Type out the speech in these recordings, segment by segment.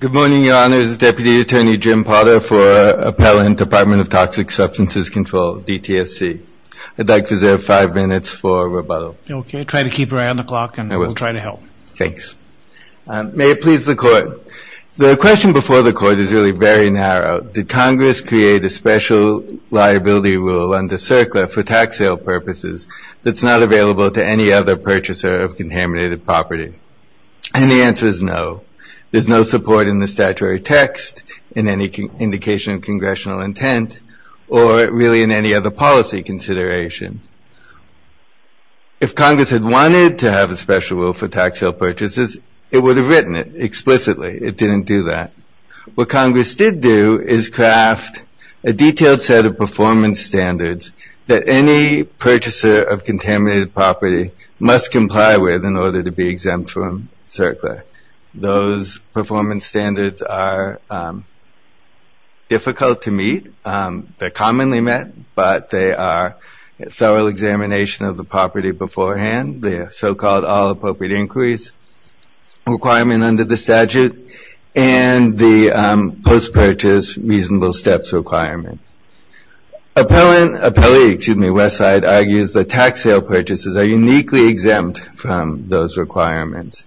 Good morning, Your Honors. Deputy Attorney Jim Potter for Appellant, Department of Toxic Substances Control, DTSC. I'd like to reserve five minutes for rebuttal. Okay. Try to keep your eye on the clock and we'll try to help. Thanks. May it please the Court. The question before the Court is really very narrow. Did Congress create a special liability rule under CERCLA for tax sale purposes that's not available to any other purchaser of contaminated property? And the answer is no. There's no support in the statutory text, in any indication of Congressional intent, or really in any other policy consideration. If Congress had wanted to have a special rule for tax sale purchases, it would have written it explicitly. It didn't do that. What Congress did do is craft a detailed set of performance standards that any purchaser of contaminated property must comply with in order to be exempt from CERCLA. Those performance standards are difficult to meet. They're commonly met, but they are a thorough examination of the property beforehand, the so-called all appropriate inquiries requirement under the statute, and the post-purchase reasonable steps requirement. Appellate, excuse me, Westside, argues that tax sale purchases are uniquely exempt from those requirements.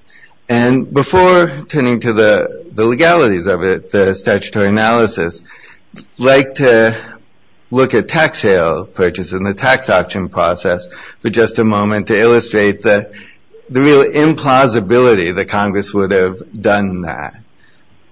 And before turning to the legalities of it, the statutory analysis, I'd like to look at tax sale purchase and the tax option process for just a moment to illustrate the real implausibility that Congress would have done that.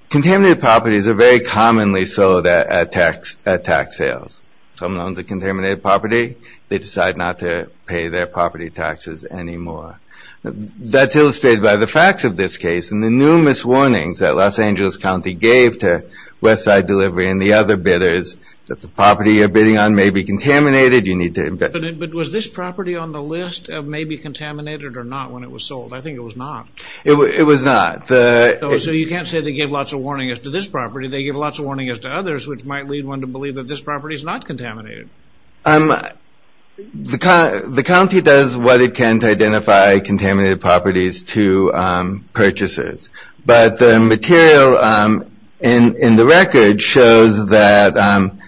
Contaminated properties are very commonly sold at tax sales. Some loans are contaminated property. They decide not to pay their property taxes anymore. That's illustrated by the facts of this case and the numerous warnings that Los Angeles County gave to Westside Delivery and the other bidders that the property you're bidding on may be contaminated, you need to invest. But was this property on the list of maybe contaminated or not when it was sold? I think it was not. It was not. So you can't say they gave lots of warnings to this property. They gave lots of warnings to others, which might lead one to believe that this property is not contaminated. The county does what it can to identify contaminated properties to purchasers. But the material in the record shows that, and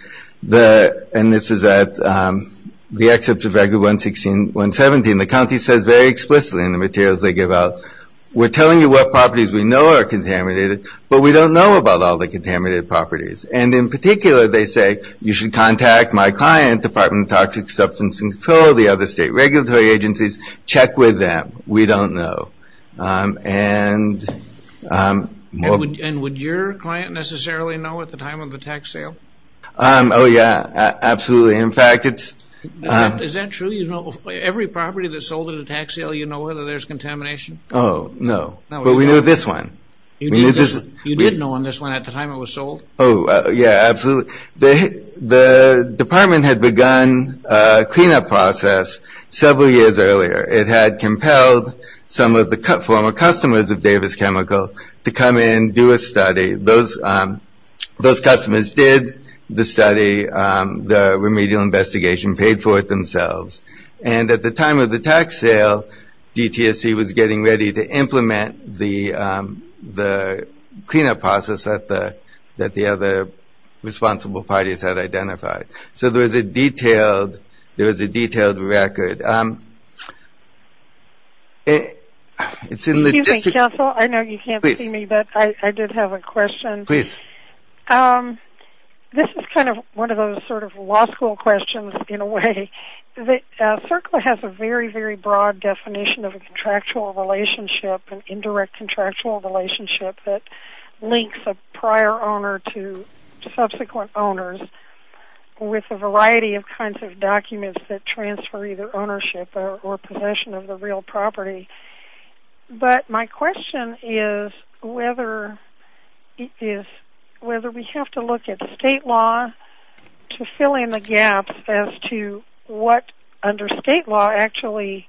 this is at the excerpt of Regular 116, 117, the county says very explicitly in the materials they give out, we're telling you what properties we know are contaminated, but we don't know about all the contaminated properties. And in particular, they say you should contact my client, Department of Toxic Substances, the other state regulatory agencies, check with them. We don't know. And would your client necessarily know at the time of the tax sale? Oh, yeah. Absolutely. In fact, it's... Is that true? You know every property that's sold at a tax sale, you know whether there's contamination? Oh, no. But we know this one. You did know on this one at the time it was sold? Oh, yeah, absolutely. The department had begun a cleanup process several years earlier. It had compelled some of the former customers of Davis Chemical to come in, do a study. Those customers did the study. The remedial investigation paid for it themselves. And at the time of the tax sale, DTSC was getting ready to implement the cleanup process that the other responsible parties had identified. So there was a detailed record. Excuse me, counsel. I know you can't see me, but I did have a question. Please. This is kind of one of those sort of law school questions in a way. CERCLA has a very, very broad definition of a contractual relationship, an indirect contractual relationship that links a prior owner to subsequent owners with a variety of kinds of documents that transfer either ownership or possession of the real property. But my question is whether we have to look at state law to fill in the gaps as to what under state law actually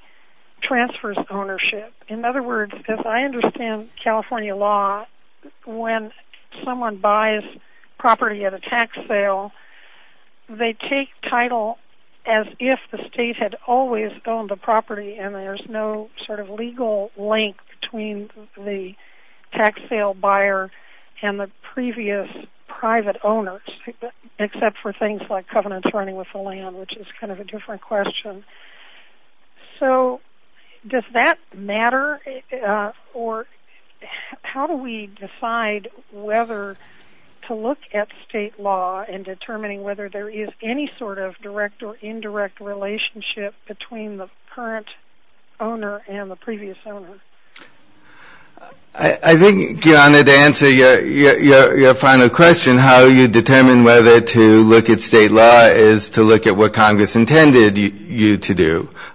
transfers ownership. In other words, as I understand California law, when someone buys property at a tax sale, they take title as if the state had always owned the property and there's no sort of legal link between the tax sale buyer and the previous private owners, except for things like covenants running with the land, which is kind of a different question. So does that matter? Or how do we decide whether to look at state law in determining whether there is any sort of direct or indirect relationship between the current owner and the previous owner? I think, Joanna, to answer your final question, how you determine whether to look at state law is to look at what Congress intended.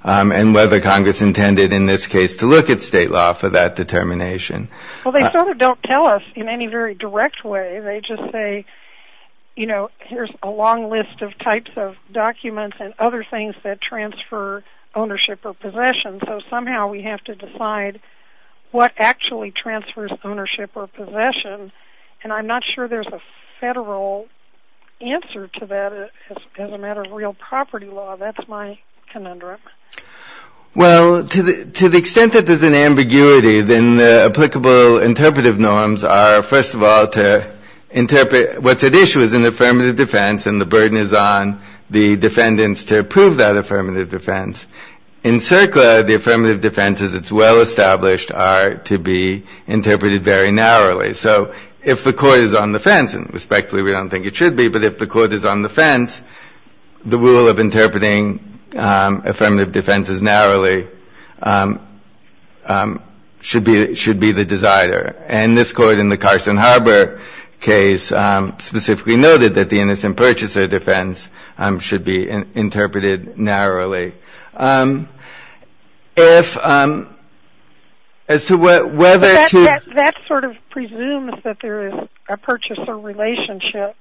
And whether Congress intended in this case to look at state law for that determination. Well, they sort of don't tell us in any very direct way. They just say, you know, here's a long list of types of documents and other things that transfer ownership or possession. So somehow we have to decide what actually transfers ownership or possession. And I'm not sure there's a federal answer to that. As a matter of real property law, that's my conundrum. Well, to the extent that there's an ambiguity, then the applicable interpretive norms are, first of all, to interpret what's at issue as an affirmative defense and the burden is on the defendants to approve that affirmative defense. In CERCLA, the affirmative defenses, it's well established, are to be interpreted very narrowly. So if the court is on the fence, and respectfully we don't think it should be, but if the court is on the fence, the rule of interpreting affirmative defenses narrowly should be the decider. And this court in the Carson Harbor case specifically noted that the innocent purchaser defense should be interpreted narrowly. That sort of presumes that there is a purchaser relationship.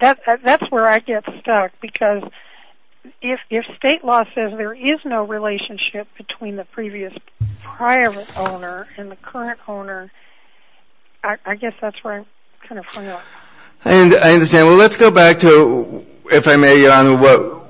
That's where I get stuck, because if state law says there is no relationship between the previous prior owner and the current owner, I guess that's where I'm kind of hung up. I understand. Well, let's go back to, if I may, Your Honor,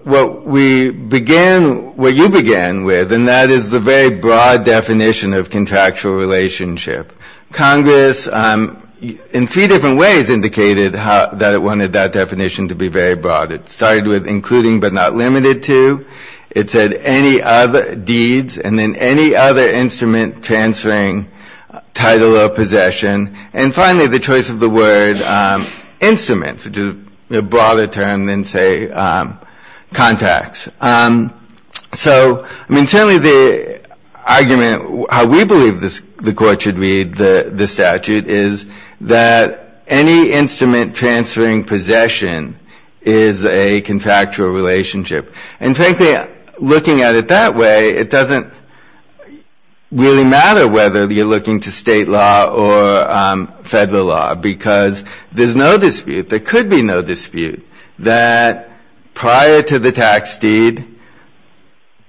what we began, what you began with, and that is the very broad definition of contractual relationship. Congress, in three different ways, indicated that it wanted that definition to be very broad. It started with including but not limited to. It said any other deeds and then any other instrument transferring title or possession. And finally, the choice of the word instrument, which is a broader term than, say, contracts. So, I mean, certainly the argument, how we believe the court should read the statute, is that any instrument transferring possession is a contractual relationship. And frankly, looking at it that way, it doesn't really matter whether you're looking to state law or federal law, because there's no dispute, there could be no dispute, that prior to the tax deed,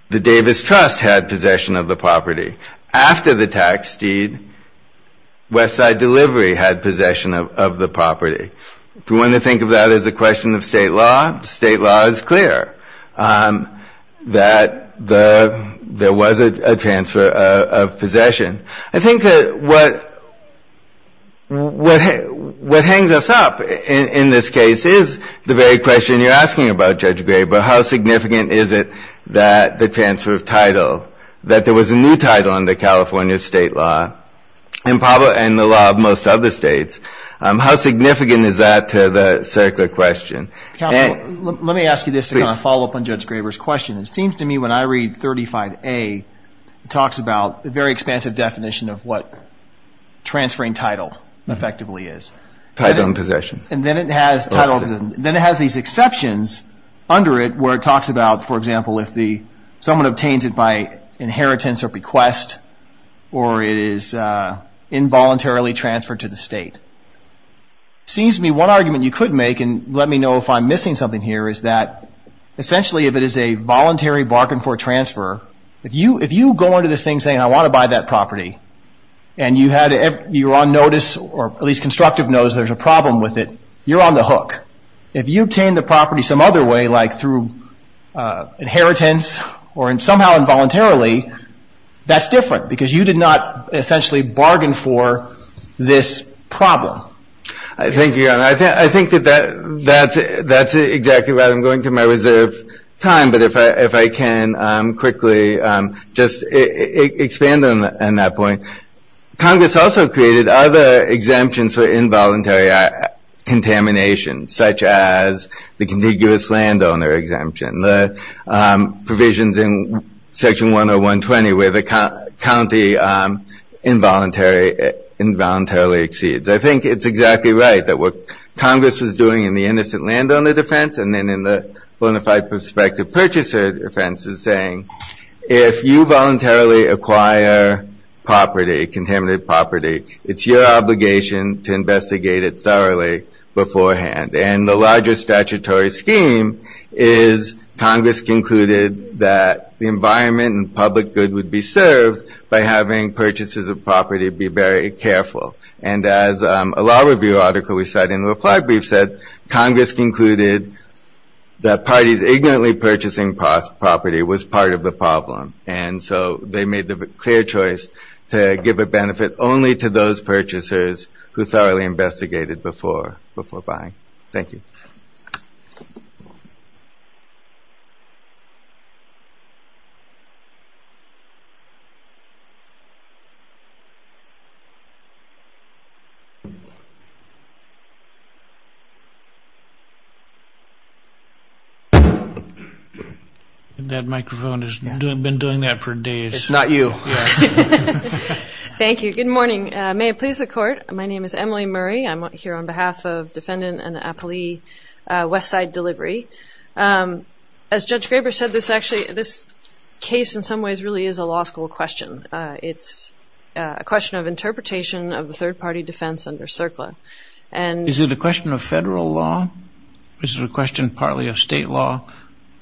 the Davis Trust had possession of the property. After the tax deed, West Side Delivery had possession of the property. If we want to think of that as a question of state law, state law is clear that there was a transfer of possession. I think that what hangs us up in this case is the very question you're asking about, Judge Graber, how significant is it that the transfer of title, that there was a new title under California state law and the law of most other states, how significant is that to the circular question? Counsel, let me ask you this to kind of follow up on Judge Graber's question. It seems to me when I read 35A, it talks about the very expansive definition of what transferring title effectively is. Title and possession. And then it has title, then it has these exceptions under it where it talks about, for example, if someone obtains it by inheritance or bequest or it is involuntarily transferred to the state. It seems to me one argument you could make, and let me know if I'm missing something here, is that essentially if it is a voluntary bargain for transfer, if you go into this thing saying I want to buy that property and you're on notice or at least constructive notice there's a problem with it, you're on the hook. If you obtain the property some other way, like through inheritance or somehow involuntarily, that's different because you did not essentially bargain for this problem. Thank you, Your Honor. I think that that's exactly right. I'm going to my reserve time, but if I can quickly just expand on that point. Congress also created other exemptions for involuntary contamination, such as the contiguous landowner exemption, the provisions in Section 10120 where the county involuntarily exceeds. I think it's exactly right that what Congress was doing in the innocent landowner defense and then in the bona fide prospective purchaser defense is saying if you voluntarily acquire property, contaminated property, it's your obligation to investigate it thoroughly beforehand. And the larger statutory scheme is Congress concluded that the environment and public good would be served by having purchases of property be very careful. And as a law review article we cite in the reply brief said, Congress concluded that parties ignorantly purchasing property was part of the problem. And so they made the clear choice to give a benefit only to those purchasers who thoroughly investigated before buying. Thank you. Thank you. That microphone has been doing that for days. It's not you. Thank you. Good morning. May it please the Court. My name is Emily Murray. I'm here on behalf of defendant and the appellee Westside Delivery. As Judge Graber said, this case in some ways really is a law school question. It's a question of interpretation of the third party defense under CERCLA. Is it a question of federal law? Is it a question partly of state law?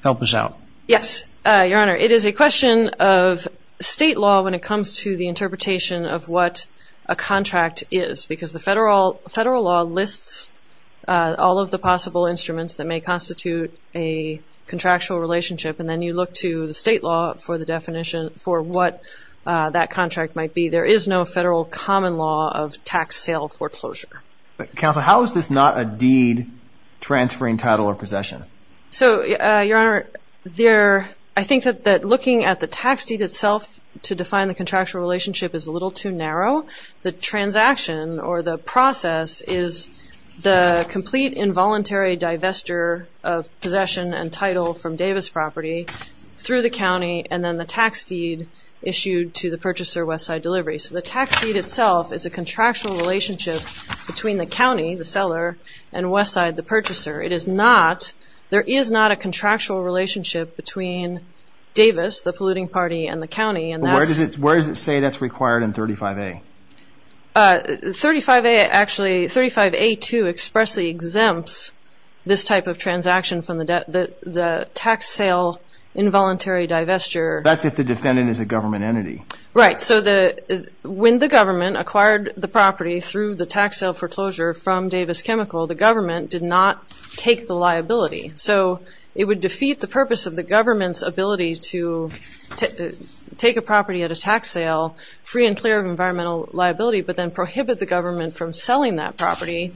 Help us out. Yes, Your Honor. It is a question of state law when it comes to the interpretation of what a contract is because the federal law lists all of the possible instruments that may constitute a contractual relationship. And then you look to the state law for the definition for what that contract might be. There is no federal common law of tax sale foreclosure. Counsel, how is this not a deed transferring title or possession? So, Your Honor, I think that looking at the tax deed itself to define the contractual relationship is a little too narrow. The transaction or the process is the complete involuntary divestiture of possession and title from Davis property through the county and then the tax deed issued to the purchaser Westside Delivery. So the tax deed itself is a contractual relationship between the county, the seller, and Westside, the purchaser. It is not, there is not a contractual relationship between Davis, the polluting party, and the county. Where does it say that is required in 35A? 35A actually, 35A2 expressly exempts this type of transaction from the tax sale involuntary divestiture. That is if the defendant is a government entity. Right. So when the government acquired the property through the tax sale foreclosure from Davis Chemical, the government did not take the liability. So it would defeat the purpose of the government's ability to take a property at a tax sale, free and clear of environmental liability, but then prohibit the government from selling that property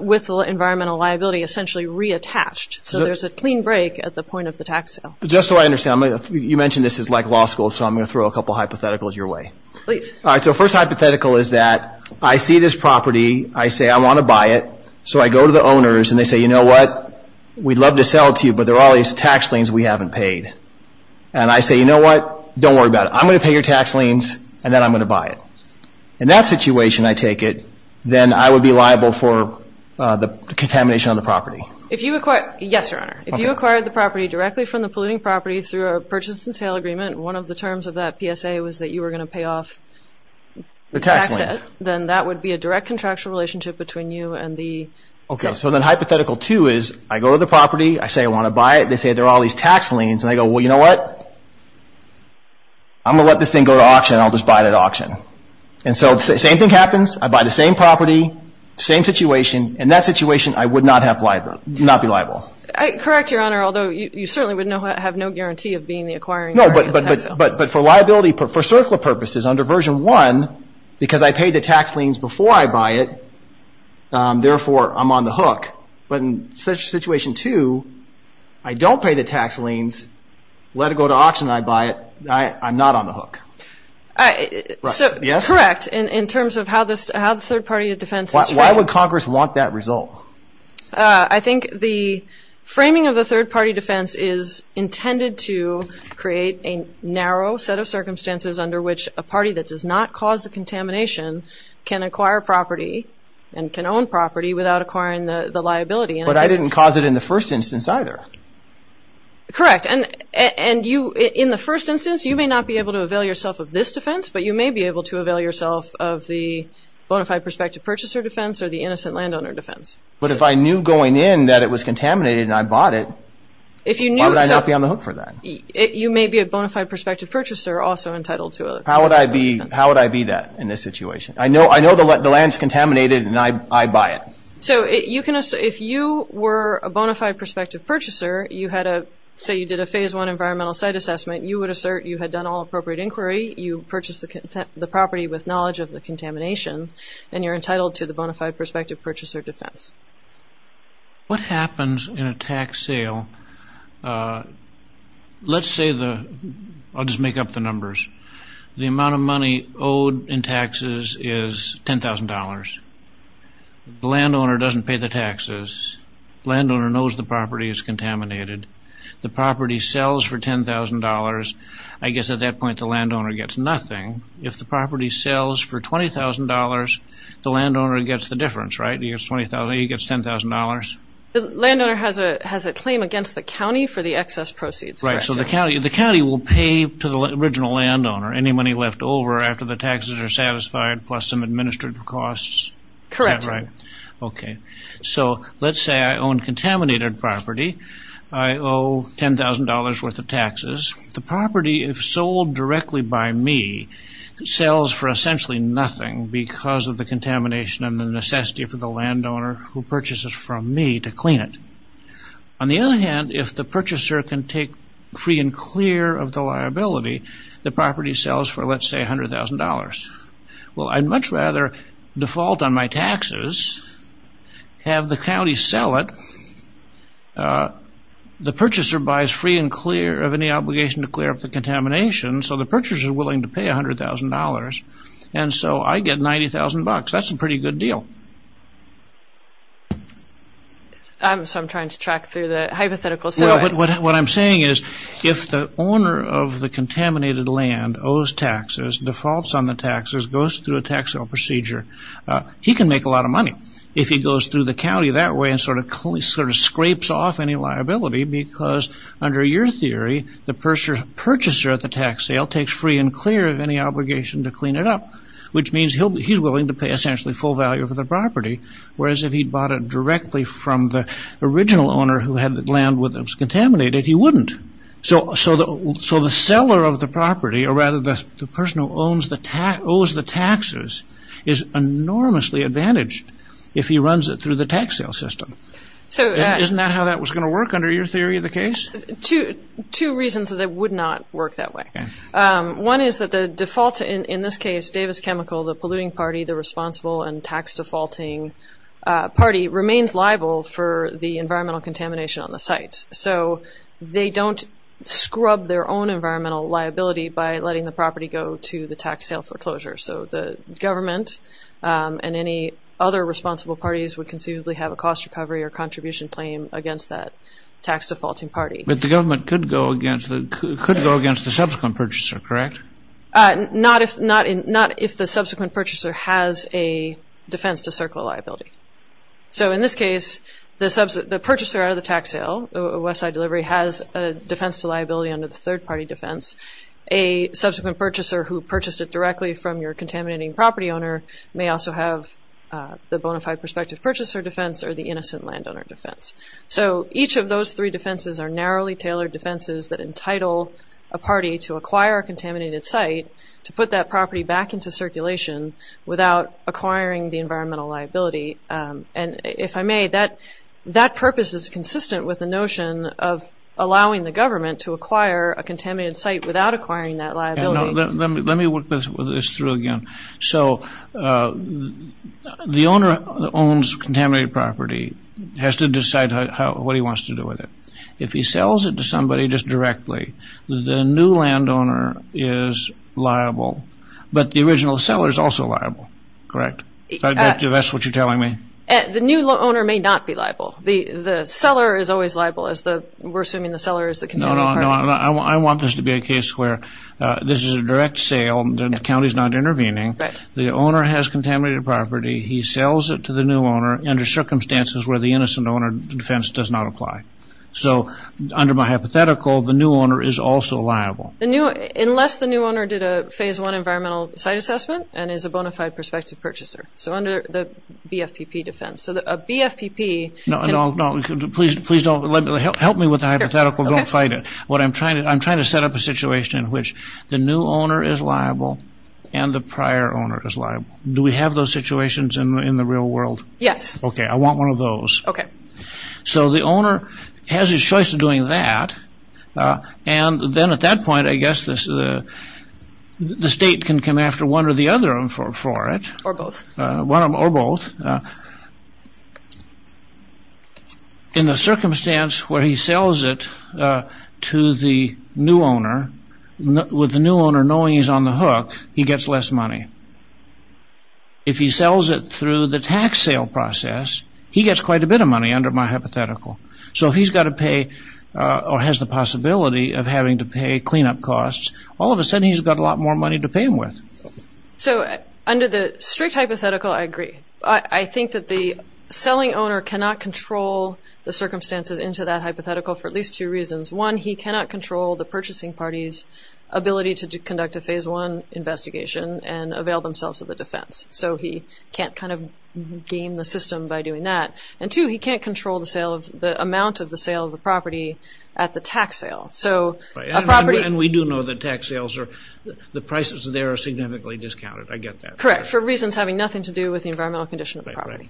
with the environmental liability essentially reattached. So there is a clean break at the point of the tax sale. Just so I understand, you mentioned this is like law school, so I'm going to throw a couple hypotheticals your way. Please. All right, so first hypothetical is that I see this property, I say I want to buy it, so I go to the owners and they say, you know what, we'd love to sell it to you, but there are all these tax liens we haven't paid. And I say, you know what, don't worry about it. I'm going to pay your tax liens and then I'm going to buy it. In that situation, I take it, then I would be liable for the contamination of the property. Yes, Your Honor. If you acquired the property directly from the polluting property through a purchase and sale agreement, one of the terms of that PSA was that you were going to pay off the tax debt, then that would be a direct contractual relationship between you and the… Okay, so then hypothetical two is I go to the property, I say I want to buy it, they say there are all these tax liens, and I go, well, you know what, I'm going to let this thing go to auction and I'll just buy it at auction. And so the same thing happens. I buy the same property, same situation. In that situation, I would not be liable. Correct, Your Honor, although you certainly would have no guarantee of being the acquiring… No, but for liability purposes, for CERCLA purposes, under version one, because I pay the tax liens before I buy it, therefore I'm on the hook. But in situation two, I don't pay the tax liens, let it go to auction and I buy it, I'm not on the hook. So, correct, in terms of how the third party defense is framed. Why would Congress want that result? I think the framing of the third party defense is intended to create a narrow set of circumstances under which a party that does not cause the contamination can acquire property and can own property without acquiring the liability. But I didn't cause it in the first instance either. Correct, and in the first instance, you may not be able to avail yourself of this defense, but you may be able to avail yourself of the bona fide prospective purchaser defense or the innocent landowner defense. But if I knew going in that it was contaminated and I bought it, why would I not be on the hook for that? You may be a bona fide prospective purchaser also entitled to… How would I be that in this situation? I know the land is contaminated and I buy it. So, if you were a bona fide prospective purchaser, say you did a phase one environmental site assessment, you would assert you had done all appropriate inquiry, you purchased the property with knowledge of the contamination, and you're entitled to the bona fide prospective purchaser defense. What happens in a tax sale? Let's say the – I'll just make up the numbers. The amount of money owed in taxes is $10,000. The landowner doesn't pay the taxes. The landowner knows the property is contaminated. The property sells for $10,000. I guess at that point the landowner gets nothing. If the property sells for $20,000, the landowner gets the difference, right? He gets $10,000. The landowner has a claim against the county for the excess proceeds. Right. So, the county will pay to the original landowner any money left over after the taxes are satisfied plus some administrative costs? Correct. Okay. So, let's say I own contaminated property. I owe $10,000 worth of taxes. The property, if sold directly by me, sells for essentially nothing because of the contamination and the necessity for the landowner who purchases from me to clean it. On the other hand, if the purchaser can take free and clear of the liability, the property sells for, let's say, $100,000. Well, I'd much rather default on my taxes, have the county sell it. The purchaser buys free and clear of any obligation to clear up the contamination, so the purchaser is willing to pay $100,000, and so I get $90,000. That's a pretty good deal. So, I'm trying to track through the hypothetical. Well, what I'm saying is if the owner of the contaminated land owes taxes, defaults on the taxes, goes through a tax bill procedure, he can make a lot of money if he goes through the county that way and sort of scrapes off any liability because under your theory, the purchaser at the tax sale takes free and clear of any obligation to clean it up, which means he's willing to pay essentially full value for the property, whereas if he'd bought it directly from the original owner who had the land that was contaminated, he wouldn't. So, the seller of the property, or rather the person who owes the taxes, is enormously advantaged if he runs it through the tax sale system. Isn't that how that was going to work under your theory of the case? Two reasons that it would not work that way. One is that the default, in this case, Davis Chemical, the polluting party, the responsible and tax defaulting party, remains liable for the environmental contamination on the site. So, they don't scrub their own environmental liability by letting the property go to the tax sale foreclosure. So, the government and any other responsible parties would conceivably have a cost recovery or contribution claim against that tax defaulting party. But the government could go against the subsequent purchaser, correct? Not if the subsequent purchaser has a defense to circle a liability. So, in this case, the purchaser at the tax sale, Westside Delivery, has a defense to liability under the third party defense. A subsequent purchaser who purchased it directly from your contaminating property owner may also have the bona fide prospective purchaser defense or the innocent landowner defense. So, each of those three defenses are narrowly tailored defenses that entitle a party to acquire a contaminated site to put that property back into circulation without acquiring the environmental liability. And if I may, that purpose is consistent with the notion of allowing the government to acquire a contaminated site without acquiring that liability. Let me work this through again. So, the owner that owns contaminated property has to decide what he wants to do with it. If he sells it to somebody just directly, the new landowner is liable, but the original seller is also liable, correct? If that's what you're telling me. The new owner may not be liable. The seller is always liable. We're assuming the seller is the contaminated party. No, I want this to be a case where this is a direct sale, the county is not intervening, the owner has contaminated property, he sells it to the new owner under circumstances where the innocent owner defense does not apply. So, under my hypothetical, the new owner is also liable. Unless the new owner did a phase one environmental site assessment and is a bona fide prospective purchaser. So, under the BFPP defense. No, please don't. Help me with the hypothetical, don't fight it. I'm trying to set up a situation in which the new owner is liable and the prior owner is liable. Do we have those situations in the real world? Yes. Okay, I want one of those. Okay. So, the owner has his choice of doing that and then at that point, I guess, the state can come after one or the other for it. Or both. In the circumstance where he sells it to the new owner, with the new owner knowing he's on the hook, he gets less money. If he sells it through the tax sale process, he gets quite a bit of money under my hypothetical. So, if he's got to pay or has the possibility of having to pay cleanup costs, all of a sudden he's got a lot more money to pay him with. So, under the strict hypothetical, I agree. I think that the selling owner cannot control the circumstances into that hypothetical for at least two reasons. One, he cannot control the purchasing party's ability to conduct a phase one investigation and avail themselves of the defense. So, he can't kind of game the system by doing that. And two, he can't control the amount of the sale of the property at the tax sale. And we do know that tax sales, the prices there are significantly discounted. I get that. Correct, for reasons having nothing to do with the environmental condition of the property.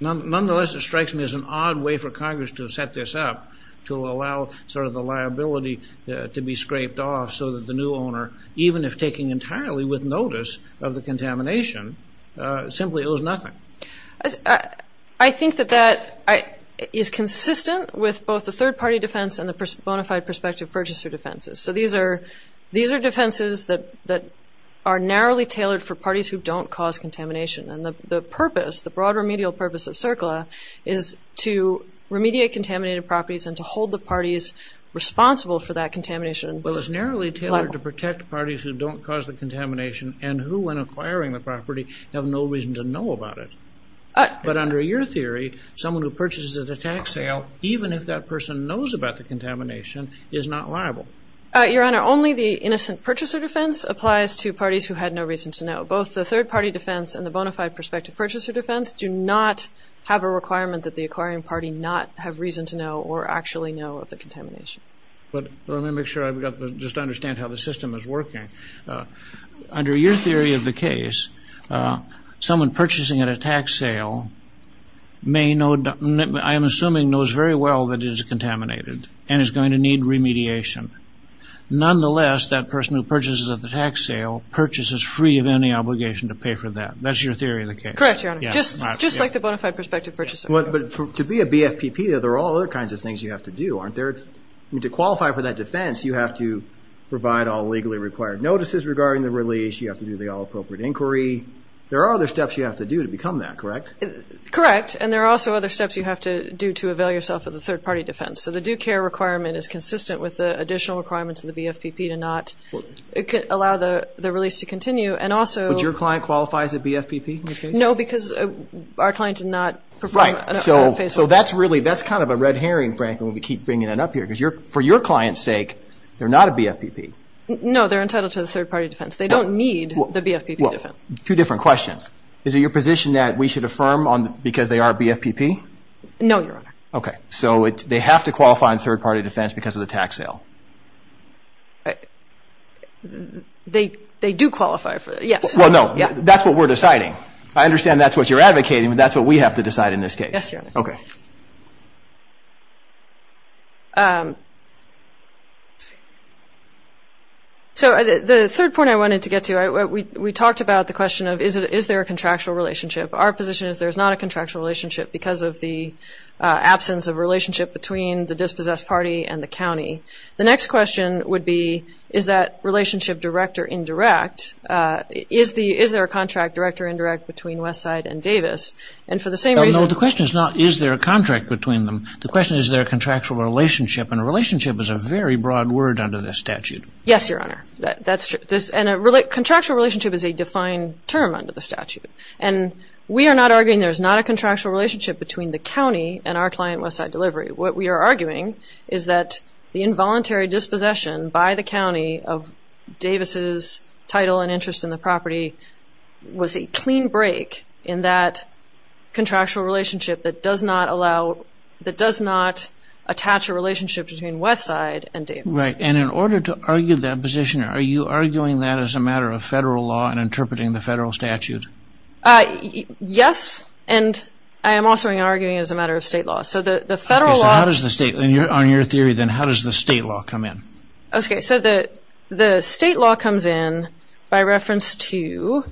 Nonetheless, it strikes me as an odd way for Congress to set this up to allow sort of the liability to be scraped off so that the new owner, even if taking entirely with notice of the contamination, simply owes nothing. I think that that is consistent with both the third party defense and the bona fide prospective purchaser defenses. So, these are defenses that are narrowly tailored for parties who don't cause contamination. And the purpose, the broad remedial purpose of CERCLA is to remediate contaminated properties and to hold the parties responsible for that contamination liable. Well, it's narrowly tailored to protect parties who don't cause the contamination and who, when acquiring the property, have no reason to know about it. someone who purchases at a tax sale, even if that person knows about the contamination, is not liable. Your Honor, only the innocent purchaser defense applies to parties who had no reason to know. Both the third party defense and the bona fide prospective purchaser defense do not have a requirement that the acquiring party not have reason to know or actually know of the contamination. But let me make sure I've got the... just understand how the system is working. Under your theory of the case, someone purchasing at a tax sale may know... I am assuming knows very well that it is contaminated and is going to need remediation. Nonetheless, that person who purchases at the tax sale purchases free of any obligation to pay for that. That's your theory of the case. Correct, Your Honor. Just like the bona fide prospective purchaser. But to be a BFPP, there are all other kinds of things you have to do. Aren't there? To qualify for that defense, you have to provide all legally required notices regarding the release. You have to do the all appropriate inquiry. There are other steps you have to do to become that, correct? Correct. And there are also other steps you have to do to avail yourself of the third party defense. So the due care requirement is consistent with the additional requirements of the BFPP to not allow the release to continue and also... But your client qualifies as a BFPP in this case? No, because our client did not perform... Right. So that's really... that's kind of a red herring, frankly, when we keep bringing it up here. Because for your client's sake, they're not a BFPP. No, they're entitled to the third party defense. They don't need the BFPP defense. Two different questions. Is it your position that we should affirm because they are a BFPP? No, Your Honor. Okay. So they have to qualify in third party defense because of the tax sale? They do qualify for... Yes. Well, no. That's what we're deciding. I understand that's what you're advocating, but that's what we have to decide in this case. Yes, Your Honor. Okay. So the third point I wanted to get to, we talked about the question of is there a contractual relationship? Our position is there's not a contractual relationship because of the absence of relationship between the dispossessed party and the county. The next question would be is that relationship direct or indirect? Is there a contract, direct or indirect, between Westside and Davis? And for the same reason... No, the question is not is there a contract between them? The question is is there a contractual relationship? And relationship is a very broad word under this statute. Yes, Your Honor. That's true. And a contractual relationship is a defined term under the statute. And we are not arguing there's not a contractual relationship between the county and our client, Westside Delivery. What we are arguing is that the involuntary dispossession by the county of Davis' title and interest in the property was a clean break in that contractual relationship that does not allow, that does not attach a relationship between Westside and Davis. Right. And in order to argue that position, are you arguing that as a matter of federal law and interpreting the federal statute? Yes. And I am also arguing as a matter of state law. So the federal law... Okay. So how does the state, on your theory then, how does the state law come in? Okay. So the state law comes in by reference to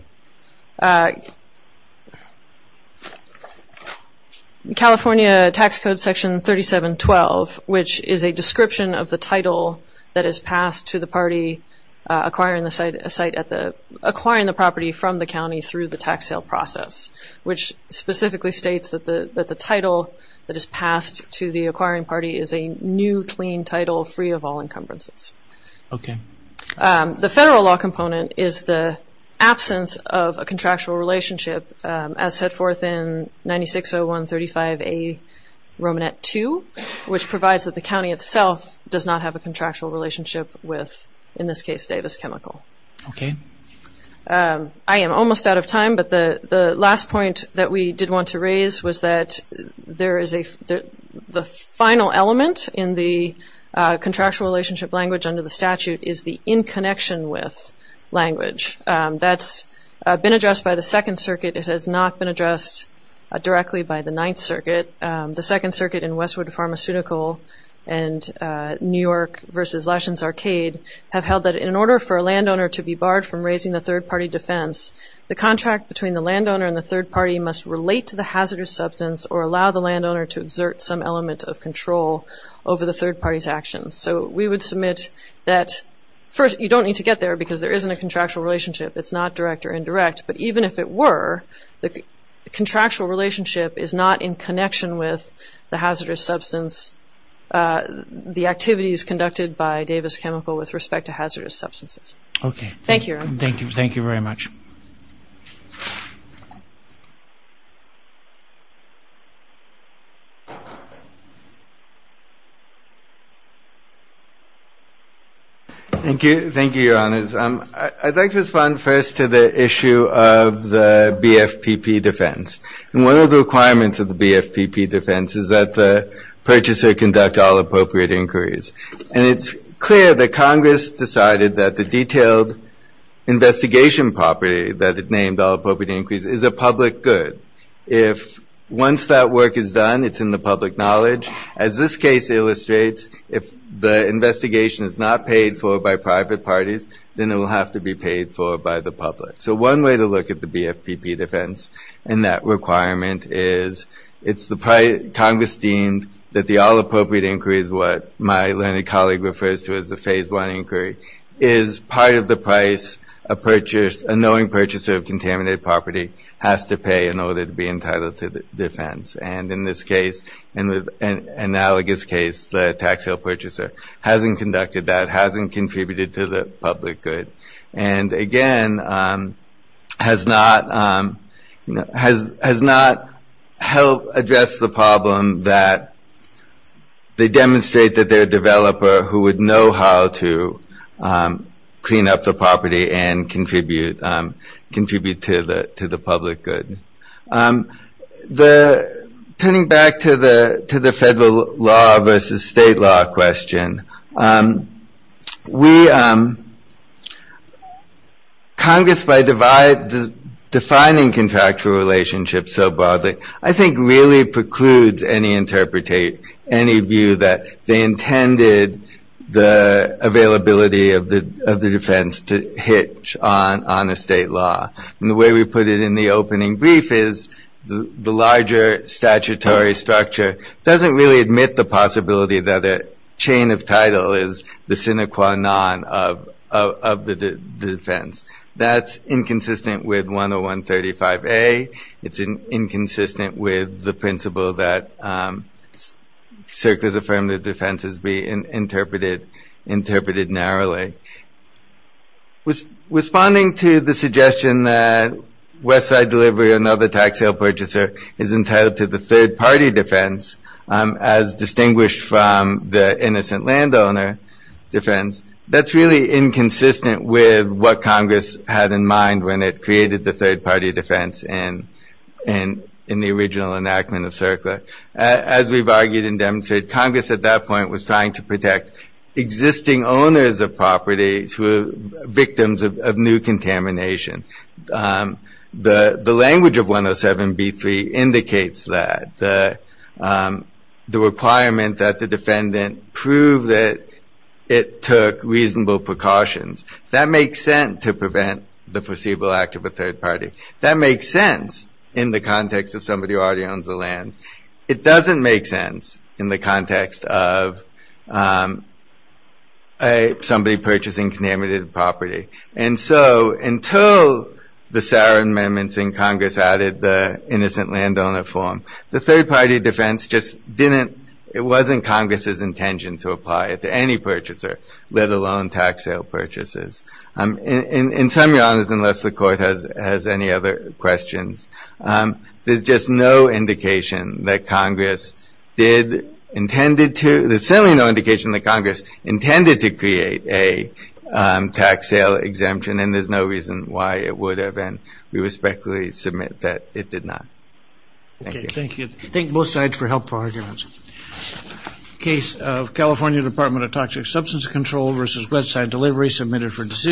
California Tax Code Section 3712, which is a description of the title that is passed to the party acquiring the site at the, acquiring the property from the county through the tax sale process, which specifically states that the title that is passed to the acquiring party is a new clean title free of all encumbrances. Okay. The federal law component is the absence of a contractual relationship as set forth in 960135A Romanette 2, which provides that the county itself does not have a contractual relationship with, in this case, Davis Chemical. Okay. I am almost out of time, but the last point that we did want to raise was that there is a, the final element in the contractual relationship language under the statute is the in connection with language. That's been addressed by the Second Circuit. It has not been addressed directly by the Ninth Circuit. The Second Circuit in Westwood Pharmaceutical and New York versus Lashen's Arcade have held that in order for a landowner to be barred from raising the third party defense, the contract between the landowner and the third party must relate to the hazardous substance or allow the landowner to exert some element of control over the third party's actions. So we would submit that, first, you don't need to get there because there isn't a contractual relationship. It's not direct or indirect, but even if it were, the contractual relationship is not in connection with the hazardous substance, the activities conducted by Davis Chemical with respect to hazardous substances. Okay. Thank you, Your Honor. Thank you very much. Thank you. Thank you, Your Honors. I'd like to respond first to the issue of the BFPP defense. And one of the requirements of the BFPP defense is that the purchaser conduct all appropriate inquiries. And it's clear that Congress decided that the detailed investigation property that is named all appropriate inquiries is a public good. If once that work is done, it's in the public knowledge, as this case illustrates, if the investigation is not paid for by private parties, then it will have to be paid for by the public. So one way to look at the BFPP defense and that requirement is it's Congress deemed that the all appropriate inquiry is what my learned colleague refers to as a phase one inquiry, is part of the price a knowing purchaser of contaminated property has to pay in order to be entitled to defense. And in this case, in the analogous case, the tax sale purchaser hasn't conducted that, hasn't contributed to the public good. And again, has not helped address the problem that they demonstrate that they're a developer who would know how to clean up the property and contribute to the public good. Turning back to the federal law versus state law question, Congress, by defining contractual relationships so broadly, I think really precludes any view that they intended the availability of the defense to hitch on a state law. And the way we put it in the opening brief is the larger statutory structure doesn't really admit the possibility that a chain of title is the sine qua non of the defense. That's inconsistent with 10135A. It's inconsistent with the principle that CERCLA's affirmative defense is being interpreted narrowly. Responding to the suggestion that West Side Delivery, another tax sale purchaser, is entitled to the third party defense, as distinguished from the innocent landowner defense, that's really inconsistent with what Congress had in mind when it created the third party defense in the original enactment of CERCLA. As we've argued and demonstrated, Congress at that point was trying to protect existing owners of properties who were victims of new contamination. The language of 107B3 indicates that the requirement that the defendant prove that it took reasonable precautions. That makes sense to prevent the foreseeable act of a third party. That makes sense in the context of somebody who already owns the land. It doesn't make sense in the context of somebody purchasing contaminated property. And so, until the Sarin amendments in Congress added the innocent landowner form, the third party defense just didn't, it wasn't Congress's intention to apply it to any purchaser, let alone tax sale purchasers. In some genres, unless the court has any other questions, there's just no indication that Congress did intended to, there's certainly no indication that Congress intended to create a tax sale exemption and there's no reason why it would have and we respectfully submit that it did not. Thank you. Thank you. Thank both sides for helpful arguments. Case of California Department of Toxic Substance Control versus Westside Delivery submitted for decision.